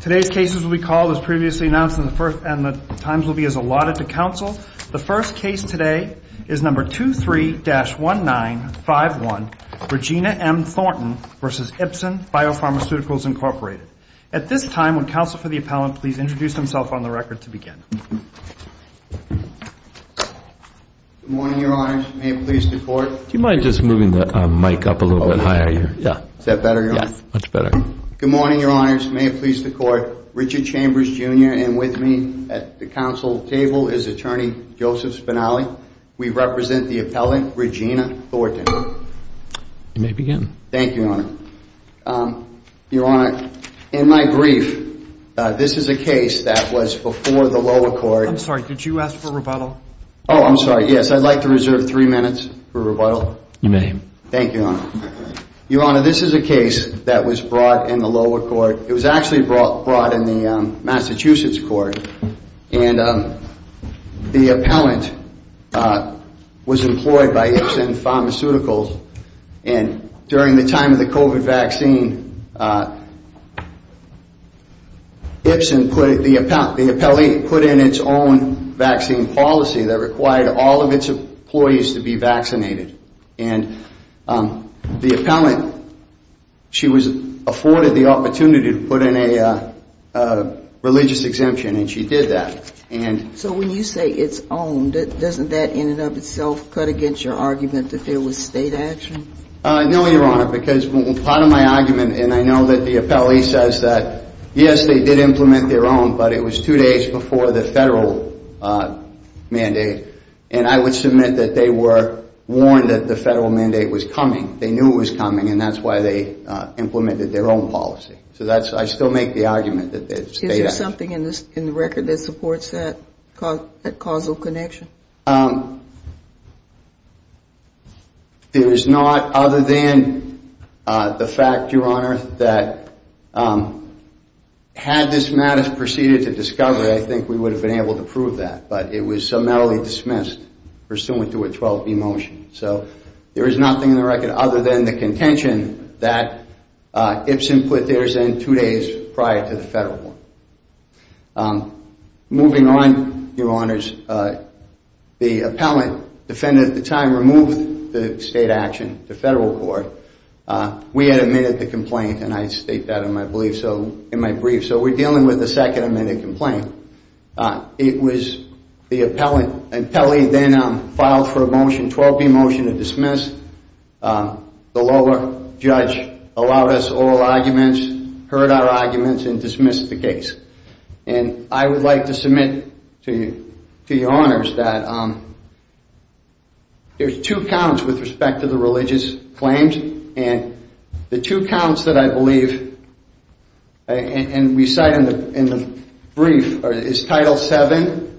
Today's cases will be called as previously announced and the times will be as allotted to counsel. The first case today is No. 23-1951, Regina M. Thornton v. Ipsen Biopharmaceuticals, Inc. At this time, would counsel for the appellant please introduce himself on the record to begin? Good morning, Your Honors. May it please the Court? Do you mind just moving the mic up a little bit higher? Is that better, Your Honor? Yes, much better. Good morning, Your Honors. May it please the Court? Richard Chambers, Jr. and with me at the counsel table is Attorney Joseph Spinelli. We represent the appellant, Regina Thornton. You may begin. Thank you, Your Honor. Your Honor, in my brief, this is a case that was before the lower court. I'm sorry, could you ask for rebuttal? Oh, I'm sorry. Yes, I'd like to reserve three minutes for rebuttal. You may. Thank you, Your Honor. Your Honor, this is a case that was brought in the lower court. It was actually brought in the Massachusetts court. And the appellant was employed by Ipsen Pharmaceuticals. And during the time of the COVID vaccine, the appellee put in its own vaccine policy that required all of its employees to be vaccinated. And the appellant, she was afforded the opportunity to put in a religious exemption, and she did that. So when you say its own, doesn't that in and of itself cut against your argument that there was state action? No, Your Honor, because part of my argument, and I know that the appellee says that, yes, they did implement their own, but it was two days before the federal mandate. And I would submit that they were warned that the federal mandate was coming. They knew it was coming, and that's why they implemented their own policy. So I still make the argument that there's state action. Is there something in the record that supports that causal connection? There is not, other than the fact, Your Honor, that had this matter proceeded to discovery, I think we would have been able to prove that. But it was summarily dismissed pursuant to a 12B motion. So there is nothing in the record other than the contention that Ipsen put theirs in two days prior to the federal one. Moving on, Your Honors, the appellant defendant at the time removed the state action to federal court. We had admitted the complaint, and I state that in my brief. So we're dealing with a second admitted complaint. It was the appellant. Appellee then filed for a motion, 12B motion to dismiss. The lower judge allowed us oral arguments, heard our arguments, and dismissed the case. And I would like to submit to Your Honors that there's two counts with respect to the religious claims. And the two counts that I believe, and we cite in the brief, is Title VII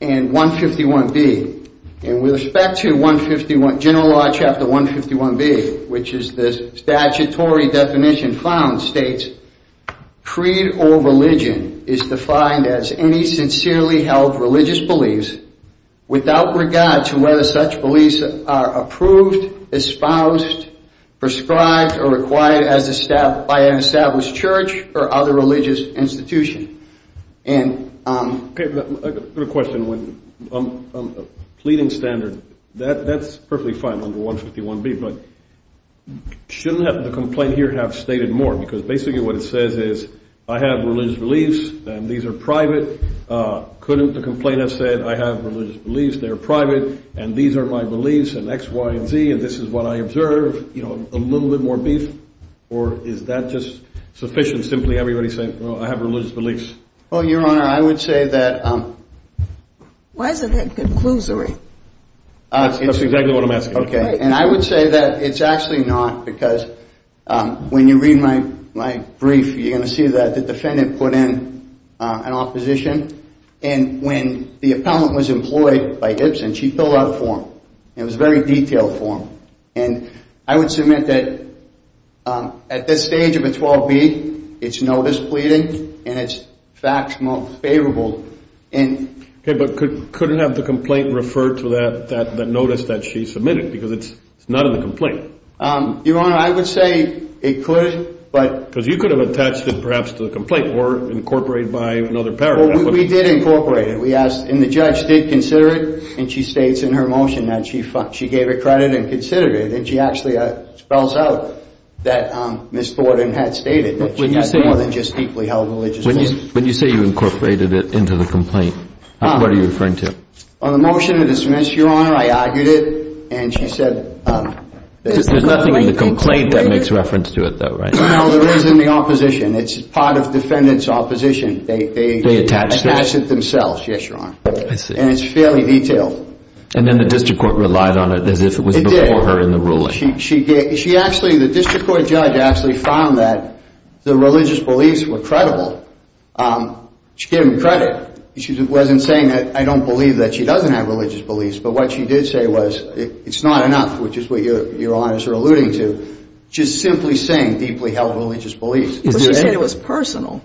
and 151B. And with respect to 151, General Law, Chapter 151B, which is the statutory definition found, states, creed or religion is defined as any sincerely held religious beliefs without regard to whether such beliefs are approved, espoused, prescribed, or acquired by an established church or other religious institution. Okay, but I've got a question. A pleading standard, that's perfectly fine under 151B, but shouldn't the complaint here have stated more? Because basically what it says is, I have religious beliefs, and these are private. Couldn't the complaint have said, I have religious beliefs, they're private, and these are my beliefs, and X, Y, and Z, and this is what I observe. You know, a little bit more beef? Or is that just sufficient, simply everybody saying, well, I have religious beliefs? Well, Your Honor, I would say that... Why is it a conclusory? That's exactly what I'm asking. Okay, and I would say that it's actually not, because when you read my brief, you're going to see that the defendant put in an opposition. And when the appellant was employed by Gibson, she filled out a form. It was a very detailed form. And I would submit that at this stage of a 12B, it's notice pleading, and it's facts most favorable. Okay, but couldn't have the complaint refer to that notice that she submitted? Because it's not in the complaint. Your Honor, I would say it could, but... Because you could have attached it, perhaps, to the complaint, or incorporated by another paragraph. Well, we did incorporate it. We asked, and the judge did consider it, and she states in her motion that she gave it credit and considered it. And she actually spells out that Ms. Thornton had stated that she had more than just deeply held religious beliefs. When you say you incorporated it into the complaint, what are you referring to? On the motion to dismiss, Your Honor, I argued it, and she said... Because there's nothing in the complaint that makes reference to it, though, right? No, there is in the opposition. It's part of defendant's opposition. They attached it themselves. Yes, Your Honor. I see. And it's fairly detailed. And then the district court relied on it as if it was before her in the ruling. It did. The district court judge actually found that the religious beliefs were credible. She gave them credit. She wasn't saying that I don't believe that she doesn't have religious beliefs, but what she did say was it's not enough, which is what Your Honors are alluding to. She's simply saying deeply held religious beliefs. But she said it was personal.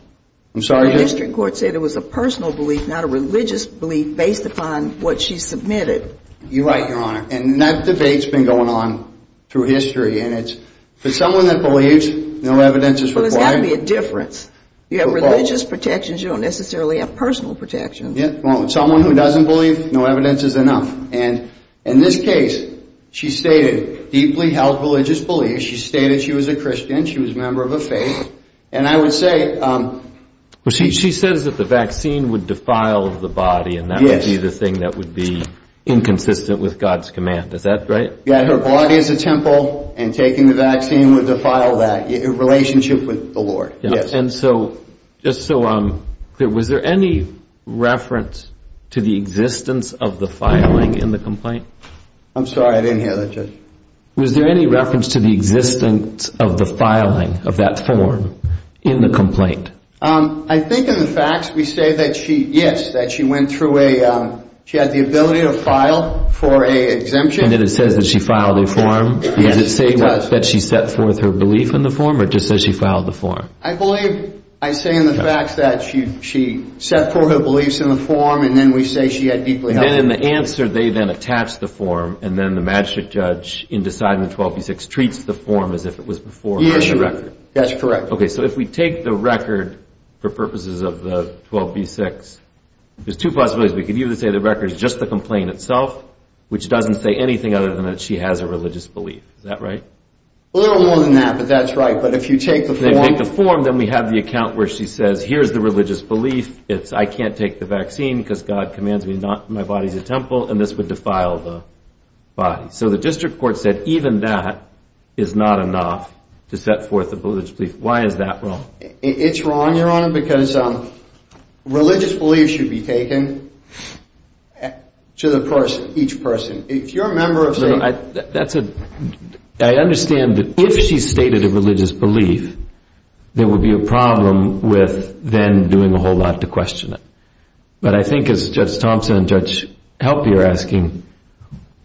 I'm sorry? The district court said it was a personal belief, not a religious belief, based upon what she submitted. You're right, Your Honor. And that debate's been going on through history. And it's for someone that believes no evidence is required. But there's got to be a difference. You have religious protections. You don't necessarily have personal protections. Yeah. Someone who doesn't believe, no evidence is enough. And in this case, she stated deeply held religious beliefs. She stated she was a Christian. She was a member of a faith. And I would say. She says that the vaccine would defile the body. Yes. And that would be the thing that would be inconsistent with God's command. Is that right? Yeah, her body is a temple, and taking the vaccine would defile that relationship with the Lord. Yes. And so, just so I'm clear, was there any reference to the existence of the filing in the complaint? I'm sorry, I didn't hear that, Judge. Was there any reference to the existence of the filing of that form in the complaint? I think in the facts we say that she, yes, that she went through a, she had the ability to file for an exemption. And then it says that she filed a form. Yes, it does. Does it say that she set forth her belief in the form, or just says she filed the form? I believe I say in the facts that she set forth her beliefs in the form, and then we say she had deeply held. And in the answer, they then attach the form, and then the magistrate judge in deciding the 12B6 treats the form as if it was before her record. Yes, that's correct. Okay, so if we take the record for purposes of the 12B6, there's two possibilities. We could either say the record is just the complaint itself, which doesn't say anything other than that she has a religious belief. Is that right? A little more than that, but that's right. But if you take the form. If you take the form, then we have the account where she says, here's the religious belief. It's, I can't take the vaccine because God commands me not. My body's a temple, and this would defile the body. So the district court said even that is not enough to set forth a religious belief. Why is that wrong? It's wrong, Your Honor, because religious beliefs should be taken to the person, each person. If you're a member of state. I understand that if she stated a religious belief, there would be a problem with then doing a whole lot to question it. But I think as Judge Thompson and Judge Helpe are asking,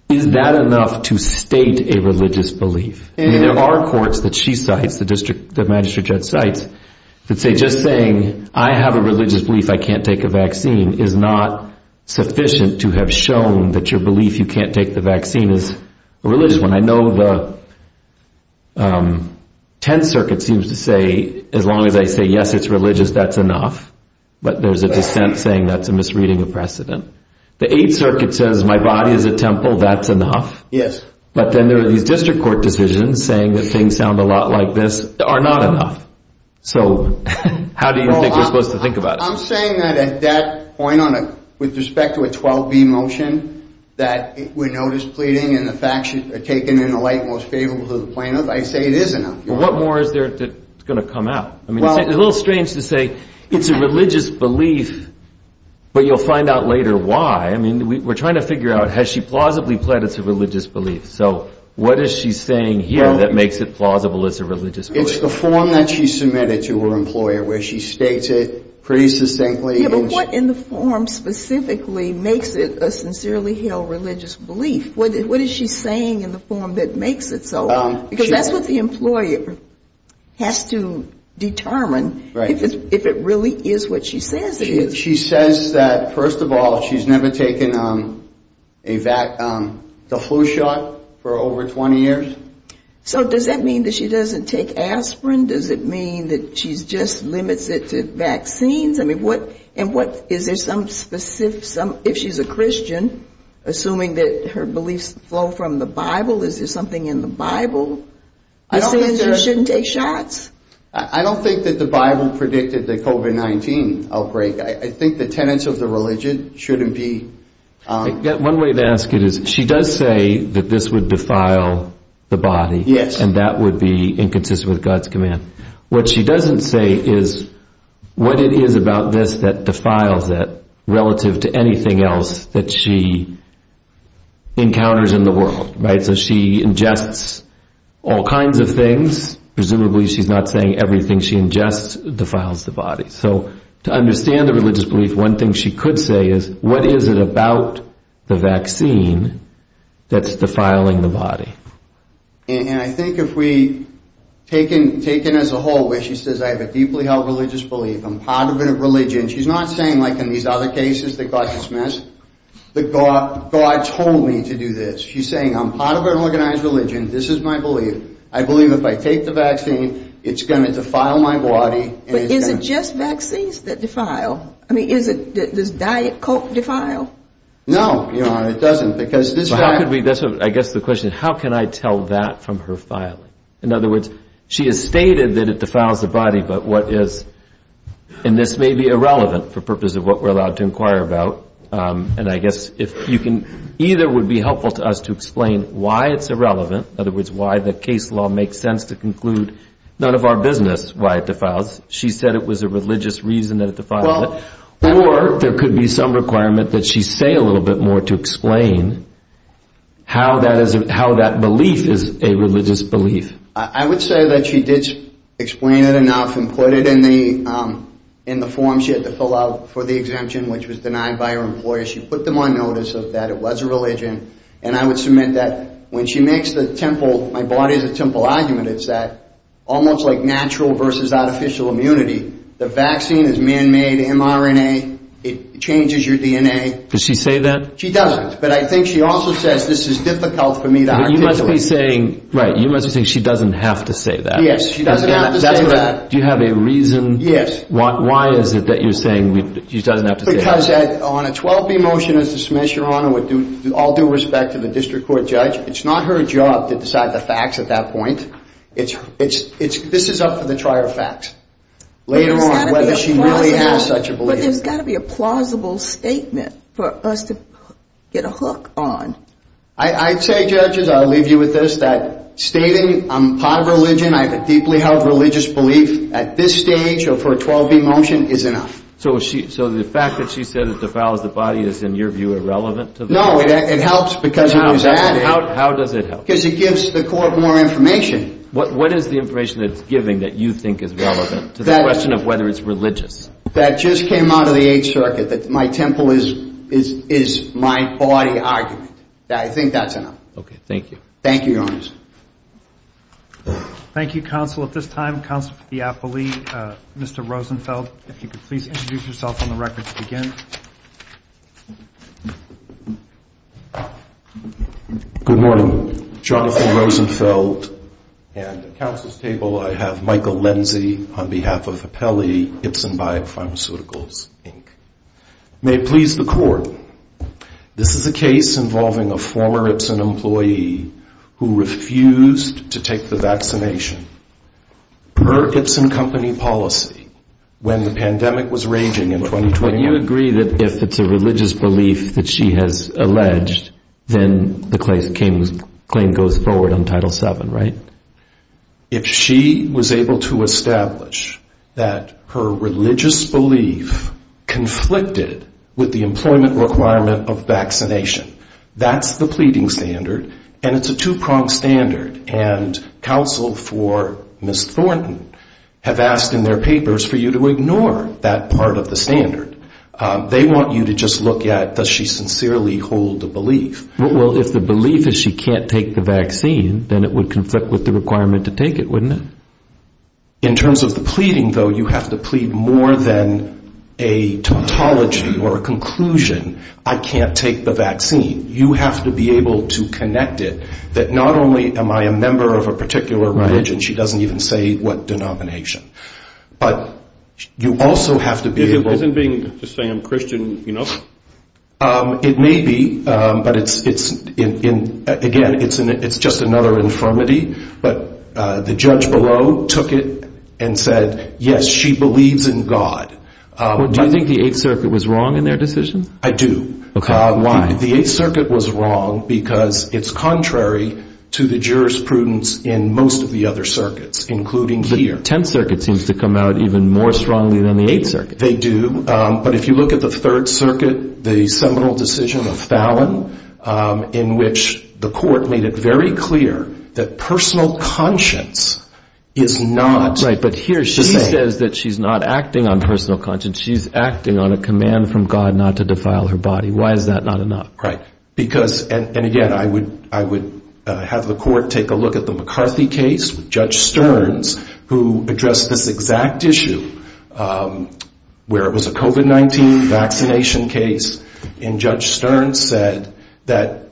is that enough to state a religious belief? There are courts that she cites, the magistrate judge cites, that say just saying, I have a religious belief, I can't take a vaccine, is not sufficient to have shown that your belief you can't take the vaccine is a religious one. I know the Tenth Circuit seems to say, as long as I say, yes, it's religious, that's enough. But there's a dissent saying that's a misreading of precedent. The Eighth Circuit says my body is a temple, that's enough. Yes. But then there are these district court decisions saying that things sound a lot like this are not enough. So how do you think we're supposed to think about it? I'm saying that at that point, with respect to a 12B motion, that we're notice pleading and the facts are taken in the light most favorable to the plaintiff, I say it is enough. Well, what more is there that's going to come out? I mean, it's a little strange to say it's a religious belief, but you'll find out later why. I mean, we're trying to figure out, has she plausibly pled it's a religious belief? So what is she saying here that makes it plausible it's a religious belief? It's the form that she submitted to her employer where she states it pretty succinctly. Yeah, but what in the form specifically makes it a sincerely held religious belief? What is she saying in the form that makes it so? Because that's what the employer has to determine if it really is what she says it is. She says that, first of all, she's never taken the flu shot for over 20 years. So does that mean that she doesn't take aspirin? Does it mean that she just limits it to vaccines? I mean, is there some specific, if she's a Christian, assuming that her beliefs flow from the Bible, is there something in the Bible that says you shouldn't take shots? I don't think that the Bible predicted the COVID-19 outbreak. I think the tenets of the religion shouldn't be. One way to ask it is, she does say that this would defile the body. Yes. And that would be inconsistent with God's command. What she doesn't say is what it is about this that defiles it relative to anything else that she encounters in the world. So she ingests all kinds of things. Presumably she's not saying everything she ingests defiles the body. So to understand the religious belief, one thing she could say is, what is it about the vaccine that's defiling the body? And I think if we take it as a whole, where she says I have a deeply held religious belief, I'm part of a religion, she's not saying like in these other cases that God dismissed, that God told me to do this. She's saying I'm part of an organized religion. This is my belief. I believe if I take the vaccine, it's going to defile my body. But is it just vaccines that defile? I mean, does diet coke defile? No, Your Honor, it doesn't. I guess the question is, how can I tell that from her filing? In other words, she has stated that it defiles the body, but what is? And this may be irrelevant for purposes of what we're allowed to inquire about. And I guess either would be helpful to us to explain why it's irrelevant, in other words, why the case law makes sense to conclude none of our business why it defiles. She said it was a religious reason that it defiled it. Or there could be some requirement that she say a little bit more to explain how that belief is a religious belief. I would say that she did explain it enough and put it in the form she had to fill out for the exemption, which was denied by her employer. She put them on notice that it was a religion. And I would submit that when she makes the temple, my body is a temple argument, it's that almost like natural versus artificial immunity, the vaccine is man-made mRNA. It changes your DNA. Does she say that? She doesn't. But I think she also says this is difficult for me to articulate. But you must be saying she doesn't have to say that. Yes, she doesn't have to say that. Do you have a reason? Yes. Why is it that you're saying she doesn't have to say that? Because on a 12-B motion as dismissed, Your Honor, with all due respect to the district court judge, it's not her job to decide the facts at that point. This is up for the trier of facts later on whether she really has such a belief. But there's got to be a plausible statement for us to get a hook on. I'd say, judges, I'll leave you with this, that stating I'm part of a religion, I have a deeply held religious belief at this stage or for a 12-B motion is enough. So the fact that she said it defiles the body is, in your view, irrelevant? No, it helps because it gives the court more information. What is the information that it's giving that you think is relevant to the question of whether it's religious? That just came out of the Eighth Circuit, that my temple is my body argument. I think that's enough. Okay, thank you. Thank you, Your Honor. Thank you, counsel. At this time, counsel for the appellee, Mr. Rosenfeld, if you could please introduce yourself on the record to begin. Good morning. Jonathan Rosenfeld. At the counsel's table, I have Michael Lenzie on behalf of Apelli, Ipsen Biopharmaceuticals, Inc. May it please the court, This is a case involving a former Ipsen employee who refused to take the vaccination. Per Ipsen Company policy, when the pandemic was raging in 2020. But you agree that if it's a religious belief that she has alleged, then the claim goes forward on Title VII, right? If she was able to establish that her religious belief conflicted with the employment requirement of vaccination, that's the pleading standard, and it's a two-pronged standard. And counsel for Ms. Thornton have asked in their papers for you to ignore that part of the standard. They want you to just look at does she sincerely hold the belief. Well, if the belief is she can't take the vaccine, then it would conflict with the requirement to take it, wouldn't it? In terms of the pleading, though, you have to plead more than a tautology or a conclusion. I can't take the vaccine. You have to be able to connect it that not only am I a member of a particular religion, she doesn't even say what denomination. But you also have to be able to say I'm Christian. It may be, but, again, it's just another infirmity. But the judge below took it and said, yes, she believes in God. Do you think the Eighth Circuit was wrong in their decision? I do. Why? The Eighth Circuit was wrong because it's contrary to the jurisprudence in most of the other circuits, including here. The Tenth Circuit seems to come out even more strongly than the Eighth Circuit. They do. But if you look at the Third Circuit, the seminal decision of Fallon, in which the court made it very clear that personal conscience is not the same. Right, but here she says that she's not acting on personal conscience. She's acting on a command from God not to defile her body. Why is that not enough? Right. And, again, I would have the court take a look at the McCarthy case with Judge Stearns, who addressed this exact issue where it was a COVID-19 vaccination case. And Judge Stearns said that,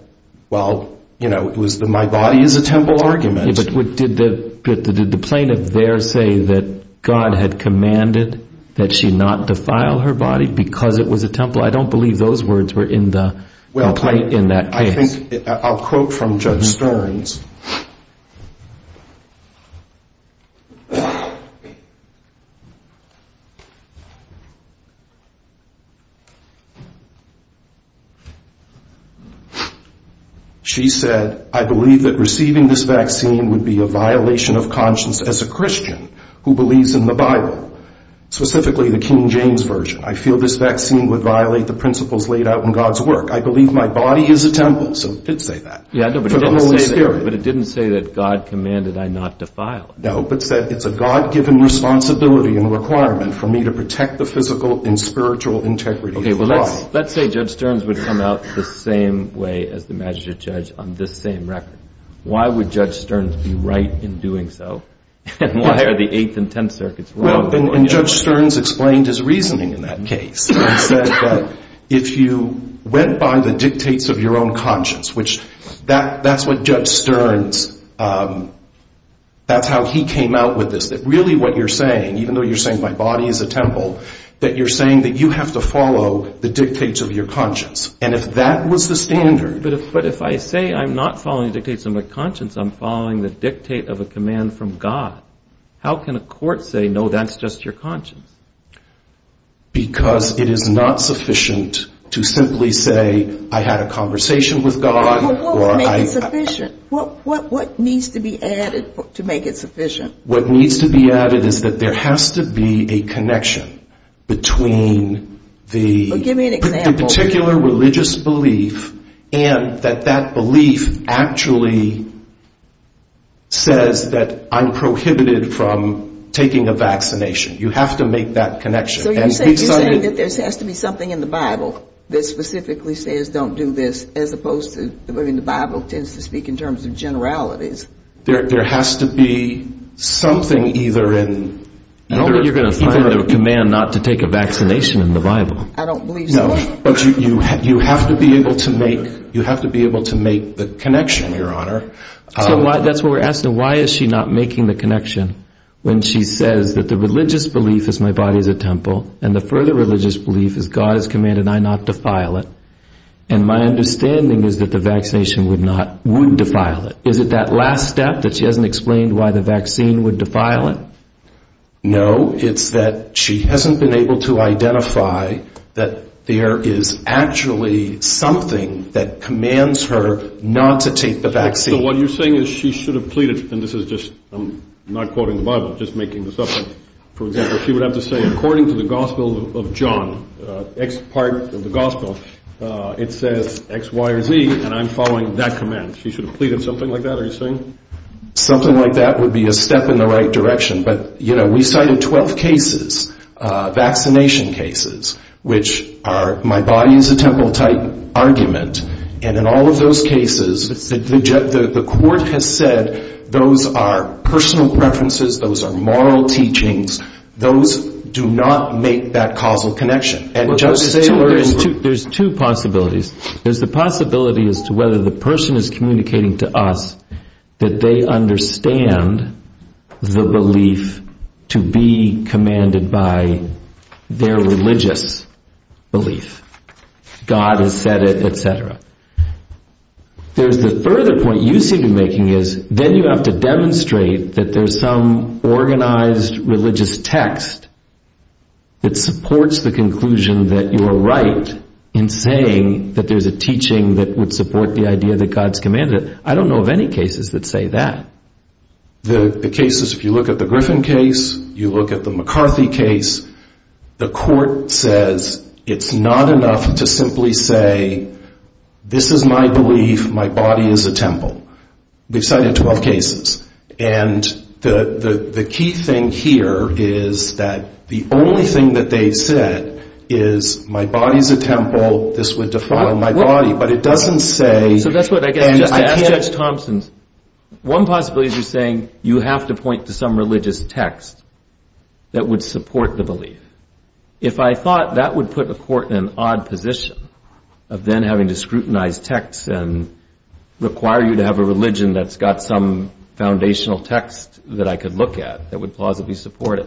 well, my body is a temple argument. Did the plaintiff there say that God had commanded that she not defile her body because it was a temple? I don't believe those words were in the complaint in that case. Well, I think I'll quote from Judge Stearns. She said, I believe that receiving this vaccine would be a violation of conscience as a Christian who believes in the Bible, specifically the King James Version. I feel this vaccine would violate the principles laid out in God's work. I believe my body is a temple. So it did say that. Yeah, but it didn't say that God commanded I not defile. No, but it said it's a God-given responsibility and requirement for me to protect the physical and spiritual integrity of the body. Okay, well, let's say Judge Stearns would come out the same way as the magistrate judge on this same record. Why would Judge Stearns be right in doing so? And why are the Eighth and Tenth Circuits wrong? And Judge Stearns explained his reasoning in that case. He said that if you went by the dictates of your own conscience, which that's what Judge Stearns, that's how he came out with this, that really what you're saying, even though you're saying my body is a temple, that you're saying that you have to follow the dictates of your conscience. And if that was the standard. But if I say I'm not following dictates of my conscience, I'm following the dictate of a command from God. How can a court say, no, that's just your conscience? Because it is not sufficient to simply say I had a conversation with God. Well, what would make it sufficient? What needs to be added to make it sufficient? What needs to be added is that there has to be a connection between the particular religious belief and that that belief actually says that I'm prohibited from taking a vaccination. You have to make that connection. So you're saying that there has to be something in the Bible that specifically says don't do this, as opposed to, I mean, the Bible tends to speak in terms of generalities. There has to be something either in. I don't think you're going to find a command not to take a vaccination in the Bible. I don't believe so. No, but you have to be able to make the connection, Your Honor. So that's what we're asking. Why is she not making the connection when she says that the religious belief is my body is a temple and the further religious belief is God has commanded I not defile it. And my understanding is that the vaccination would defile it. Is it that last step that she hasn't explained why the vaccine would defile it? No, it's that she hasn't been able to identify that there is actually something that commands her not to take the vaccine. So what you're saying is she should have pleaded, and this is just, I'm not quoting the Bible, just making this up. For example, she would have to say according to the Gospel of John, X part of the Gospel, it says X, Y, or Z, and I'm following that command. She should have pleaded something like that, are you saying? Something like that would be a step in the right direction. But, you know, we cited 12 cases, vaccination cases, which are my body is a temple type argument, and in all of those cases the court has said those are personal preferences, those are moral teachings, those do not make that causal connection. There's two possibilities. There's the possibility as to whether the person is communicating to us that they understand the belief to be commanded by their religious belief. God has said it, etc. There's the further point you seem to be making is then you have to demonstrate that there's some organized religious text that supports the conclusion that you are right in saying that there's a teaching that would support the idea that God's commanded it. I don't know of any cases that say that. The cases, if you look at the Griffin case, you look at the McCarthy case, the court says it's not enough to simply say this is my belief, my body is a temple. We've cited 12 cases. And the key thing here is that the only thing that they've said is my body is a temple, this would define my body, but it doesn't say... So that's what I guess I'm just asking Judge Thompson. One possibility is you're saying you have to point to some religious text that would support the belief. If I thought that would put the court in an odd position of then having to scrutinize text and require you to have a religion that's got some foundational text that I could look at that would plausibly support it.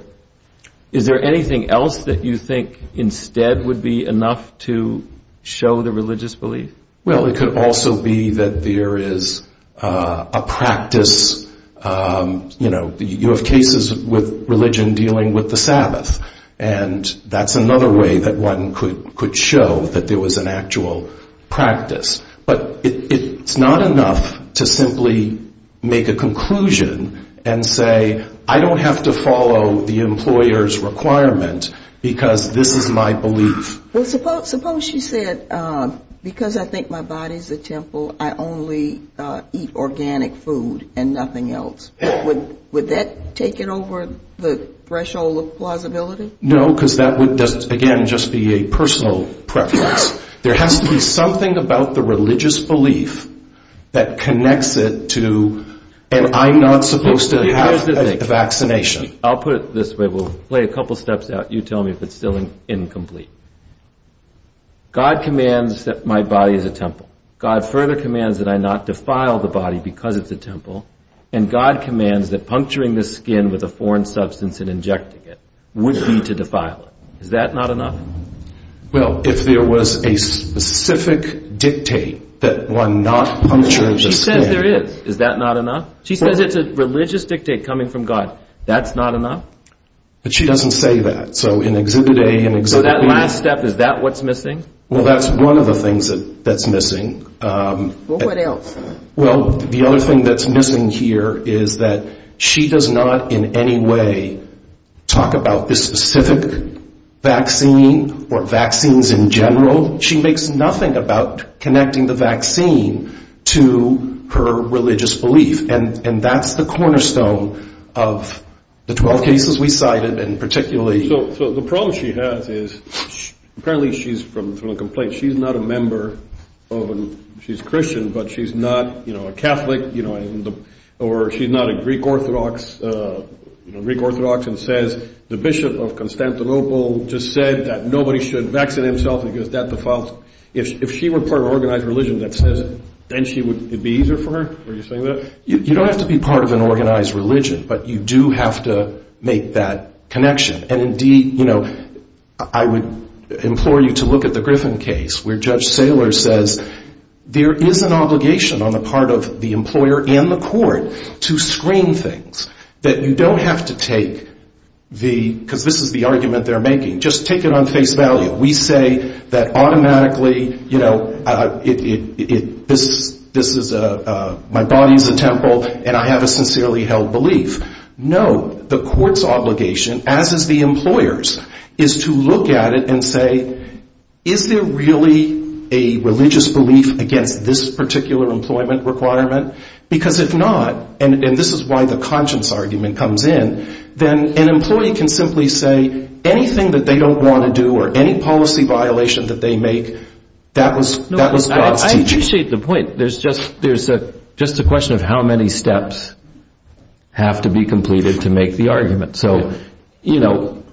Is there anything else that you think instead would be enough to show the religious belief? Well, it could also be that there is a practice, you know, you have cases with religion dealing with the Sabbath. And that's another way that one could show that there was an actual practice. But it's not enough to simply make a conclusion and say I don't have to follow the employer's requirement because this is my belief. Well, suppose she said because I think my body is a temple, I only eat organic food and nothing else. Would that take it over the threshold of plausibility? No, because that would, again, just be a personal preference. There has to be something about the religious belief that connects it to and I'm not supposed to have a vaccination. I'll put it this way. We'll play a couple steps out. You tell me if it's still incomplete. God commands that my body is a temple. God further commands that I not defile the body because it's a temple. And God commands that puncturing the skin with a foreign substance and injecting it would be to defile it. Is that not enough? Well, if there was a specific dictate that one not puncture the skin. She says there is. Is that not enough? She says it's a religious dictate coming from God. That's not enough? But she doesn't say that. So in Exhibit A and Exhibit B. So that last step, is that what's missing? Well, that's one of the things that's missing. Well, what else? Well, the other thing that's missing here is that she does not in any way talk about this specific vaccine or vaccines in general. She makes nothing about connecting the vaccine to her religious belief. And that's the cornerstone of the 12 cases we cited and particularly. So the problem she has is apparently she's from a complaint. She's Christian, but she's not a Catholic. Or she's not a Greek Orthodox and says the Bishop of Constantinople just said that nobody should vaccine himself because that defiles. If she were part of an organized religion that says it, then it would be easier for her? Are you saying that? You don't have to be part of an organized religion, but you do have to make that connection. And indeed, you know, I would implore you to look at the Griffin case where Judge Saylor says there is an obligation on the part of the employer and the court to screen things. That you don't have to take the, because this is the argument they're making, just take it on face value. We say that automatically, you know, this is a, my body is a temple and I have a sincerely held belief. No, the court's obligation, as is the employer's, is to look at it and say, is there really a religious belief against this particular employment requirement? Because if not, and this is why the conscience argument comes in, then an employee can simply say anything that they don't want to do or any policy violation that they make, that was God's teaching. There's just a question of how many steps have to be completed to make the argument. So, you know,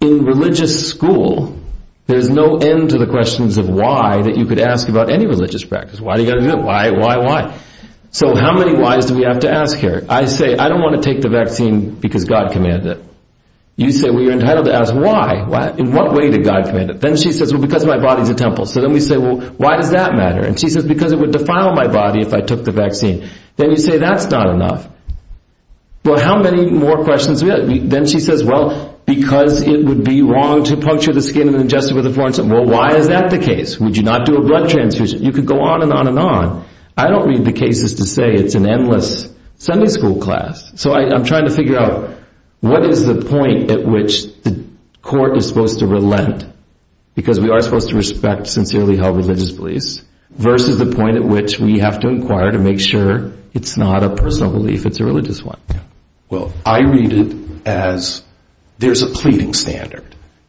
in religious school, there's no end to the questions of why that you could ask about any religious practice. Why do you got to do it? Why, why, why? So how many why's do we have to ask here? I say, I don't want to take the vaccine because God commanded it. You say, well, you're entitled to ask why? In what way did God command it? Then she says, well, because my body's a temple. So then we say, well, why does that matter? And she says, because it would defile my body if I took the vaccine. Then you say, that's not enough. Well, how many more questions do we have? Then she says, well, because it would be wrong to puncture the skin and ingest it with a foreign substance. Well, why is that the case? Would you not do a blood transfusion? You could go on and on and on. I don't read the cases to say it's an endless Sunday school class. So I'm trying to figure out what is the point at which the court is supposed to relent, because we are supposed to respect sincerely held religious beliefs, versus the point at which we have to inquire to make sure it's not a personal belief, it's a religious one. Well, I read it as there's a pleading standard.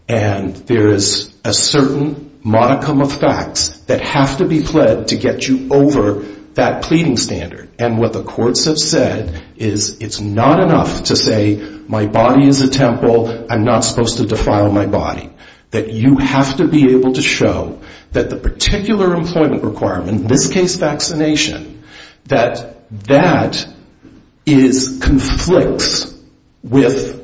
And there is a certain modicum of facts that have to be pled to get you over that pleading standard. And what the courts have said is it's not enough to say my body is a temple, I'm not supposed to defile my body. That you have to be able to show that the particular employment requirement, in this case vaccination, that that conflicts with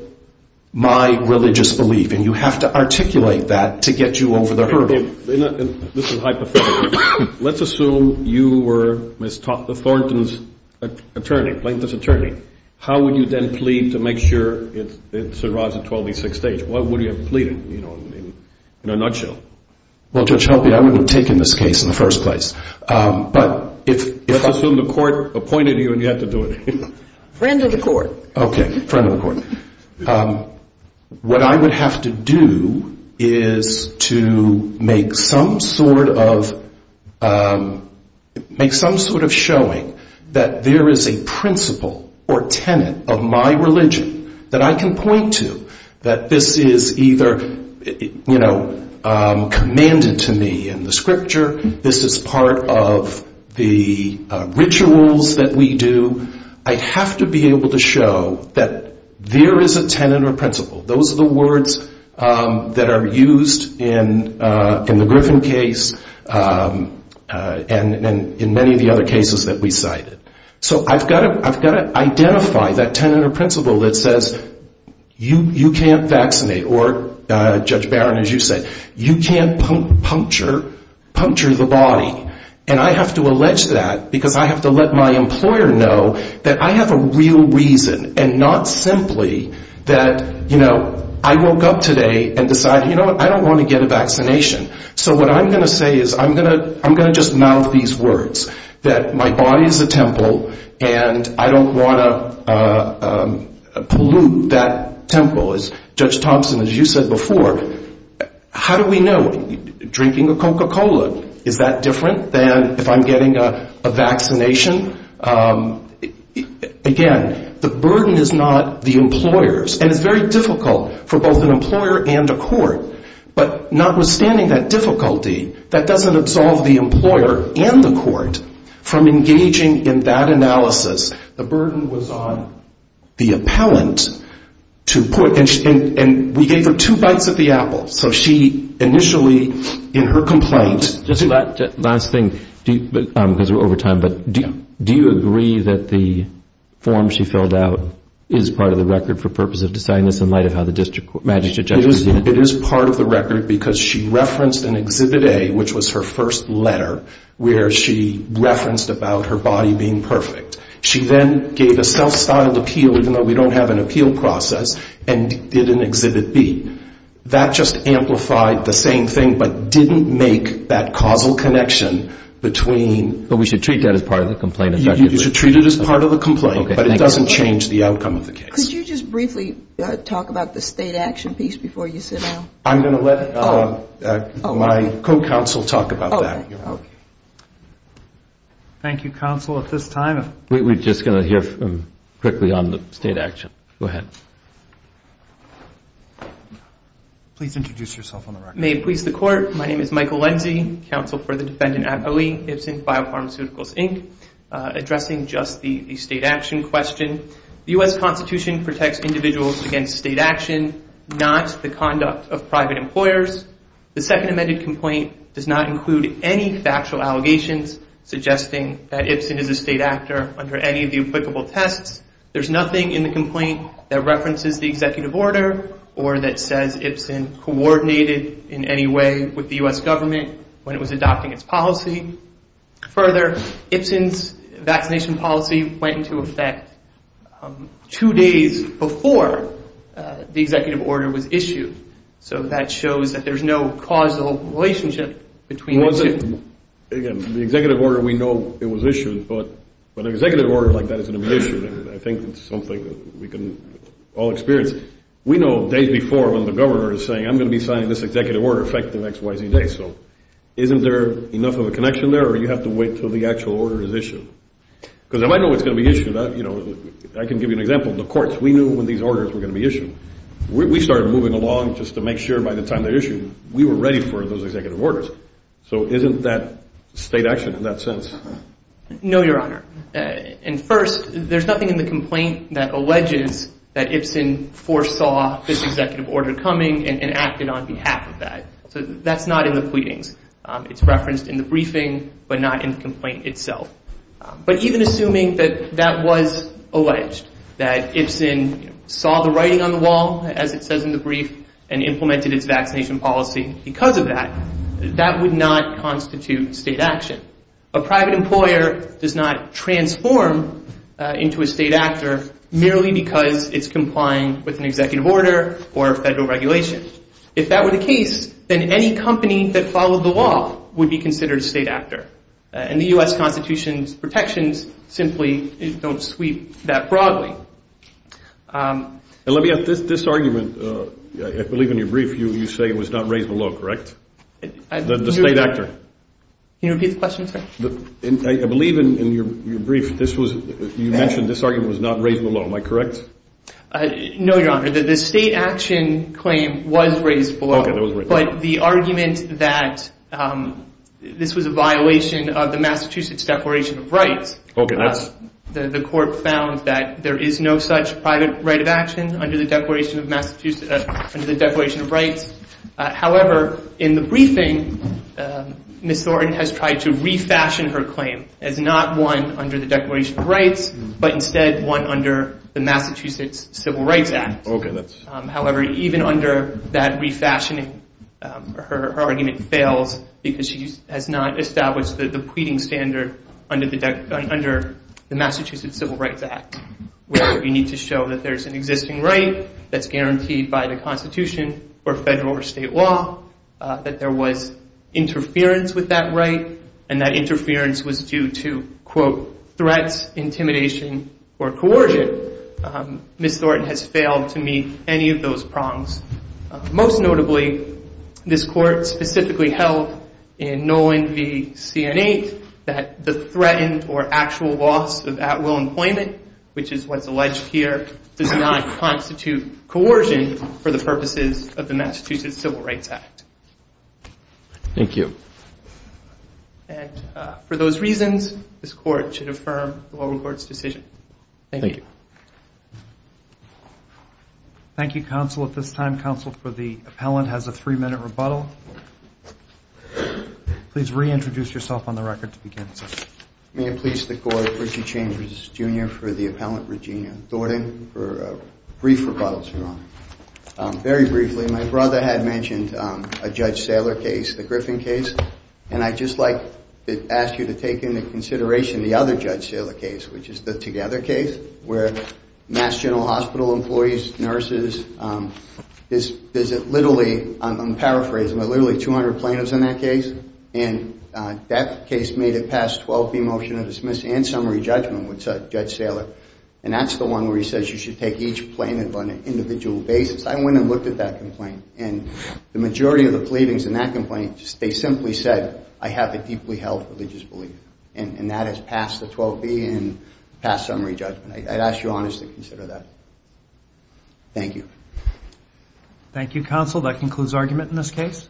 my religious belief. And you have to articulate that to get you over the hurdle. This is hypothetical. Let's assume you were Ms. Thornton's attorney, Plaintiff's attorney. How would you then plead to make sure it's a rise of 12 v. 6 stage? What would you have pleaded, you know, in a nutshell? Well, Judge Helvey, I wouldn't have taken this case in the first place. But if I assume the court appointed you and you had to do it. Friend of the court. Okay, friend of the court. What I would have to do is to make some sort of showing that there is a principle or tenet of my religion that I can point to. That this is either, you know, commanded to me in the scripture, this is part of the rituals that we do. I have to be able to show that there is a tenet or principle. Those are the words that are used in the Griffin case and in many of the other cases that we cited. So I've got to identify that tenet or principle that says you can't vaccinate. Or, Judge Barron, as you said, you can't puncture the body. And I have to allege that because I have to let my employer know that I have a real reason. And not simply that, you know, I woke up today and decided, you know what, I don't want to get a vaccination. So what I'm going to say is I'm going to just mouth these words. That my body is a temple and I don't want to pollute that temple. As Judge Thompson, as you said before, how do we know? Drinking a Coca-Cola, is that different than if I'm getting a vaccination? Again, the burden is not the employer's. And it's very difficult for both an employer and a court. But notwithstanding that difficulty, that doesn't absolve the employer and the court from engaging in that analysis. The burden was on the appellant to put. And we gave her two bites of the apple. So she initially, in her complaint. Just last thing, because we're over time, but do you agree that the form she filled out is part of the record for purpose of deciding this in light of how the district magistrate judges it? It is part of the record because she referenced in Exhibit A, which was her first letter, where she referenced about her body being perfect. She then gave a self-styled appeal, even though we don't have an appeal process, and did an Exhibit B. That just amplified the same thing, but didn't make that causal connection between. But we should treat that as part of the complaint? You should treat it as part of the complaint, but it doesn't change the outcome of the case. Could you just briefly talk about the state action piece before you sit down? I'm going to let my co-counsel talk about that. Thank you, counsel, at this time. We're just going to hear quickly on the state action. Go ahead. Please introduce yourself on the record. May it please the court. My name is Michael Lenzie, counsel for the defendant at OE, Ibsen Biopharmaceuticals, Inc., addressing just the state action question. The U.S. Constitution protects individuals against state action, not the conduct of private employers. The second amended complaint does not include any factual allegations suggesting that Ibsen is a state actor under any of the applicable tests. There's nothing in the complaint that references the executive order or that says Ibsen coordinated in any way with the U.S. government when it was adopting its policy. Further, Ibsen's vaccination policy went into effect two days before the executive order was issued. So that shows that there's no causal relationship between the two. Again, the executive order, we know it was issued, but an executive order like that isn't going to be issued. I think it's something that we can all experience. We know days before when the governor is saying, I'm going to be signing this executive order effective X, Y, Z day. So isn't there enough of a connection there or do you have to wait until the actual order is issued? Because I know it's going to be issued. I can give you an example. The courts, we knew when these orders were going to be issued. We started moving along just to make sure by the time they're issued we were ready for those executive orders. So isn't that state action in that sense? No, Your Honor. And first, there's nothing in the complaint that alleges that Ibsen foresaw this executive order coming and acted on behalf of that. So that's not in the pleadings. It's referenced in the briefing but not in the complaint itself. But even assuming that that was alleged, that Ibsen saw the writing on the wall, as it says in the brief, and implemented its vaccination policy because of that, that would not constitute state action. A private employer does not transform into a state actor merely because it's complying with an executive order or a federal regulation. If that were the case, then any company that followed the law would be considered a state actor. And the U.S. Constitution's protections simply don't sweep that broadly. And let me ask, this argument, I believe in your brief you say it was not raised below, correct? The state actor. Can you repeat the question, sir? I believe in your brief this was, you mentioned this argument was not raised below. Am I correct? No, Your Honor. The state action claim was raised below. Okay, it was raised below. But the argument that this was a violation of the Massachusetts Declaration of Rights, the court found that there is no such private right of action under the Declaration of Rights. However, in the briefing, Ms. Thornton has tried to refashion her claim as not one under the Declaration of Rights, but instead one under the Massachusetts Civil Rights Act. However, even under that refashioning, her argument fails because she has not established the pleading standard under the Massachusetts Civil Rights Act, where you need to show that there's an existing right that's guaranteed by the Constitution or federal or state law, that there was interference with that right, and that interference was due to, quote, threats, intimidation, or coercion. Ms. Thornton has failed to meet any of those prongs. Most notably, this court specifically held in Nolan v. C&A that the threatened or actual loss of at-will employment, which is what's alleged here, does not constitute coercion for the purposes of the Massachusetts Civil Rights Act. Thank you. And for those reasons, this court should affirm the lower court's decision. Thank you. Thank you. Thank you, counsel. At this time, counsel for the appellant has a three-minute rebuttal. Please reintroduce yourself on the record to begin. May it please the court, Richard Chambers, Jr., for the appellant, Regina Thornton, for a brief rebuttal, Your Honor. Very briefly, my brother had mentioned a Judge Saylor case, the Griffin case, and I'd just like to ask you to take into consideration the other Judge Saylor case, which is the Together case, where Mass General Hospital employees, nurses, there's literally, I'm paraphrasing, there are literally 200 plaintiffs in that case, and that case made it past 12th v. motion of dismissal and summary judgment with Judge Saylor, and that's the one where he says you should take each plaintiff on an individual basis. I went and looked at that complaint, and the majority of the pleadings in that complaint, they simply said I have a deeply held religious belief, and that has passed the 12th v. and passed summary judgment. I'd ask you, honestly, to consider that. Thank you. Thank you, counsel. That concludes argument in this case.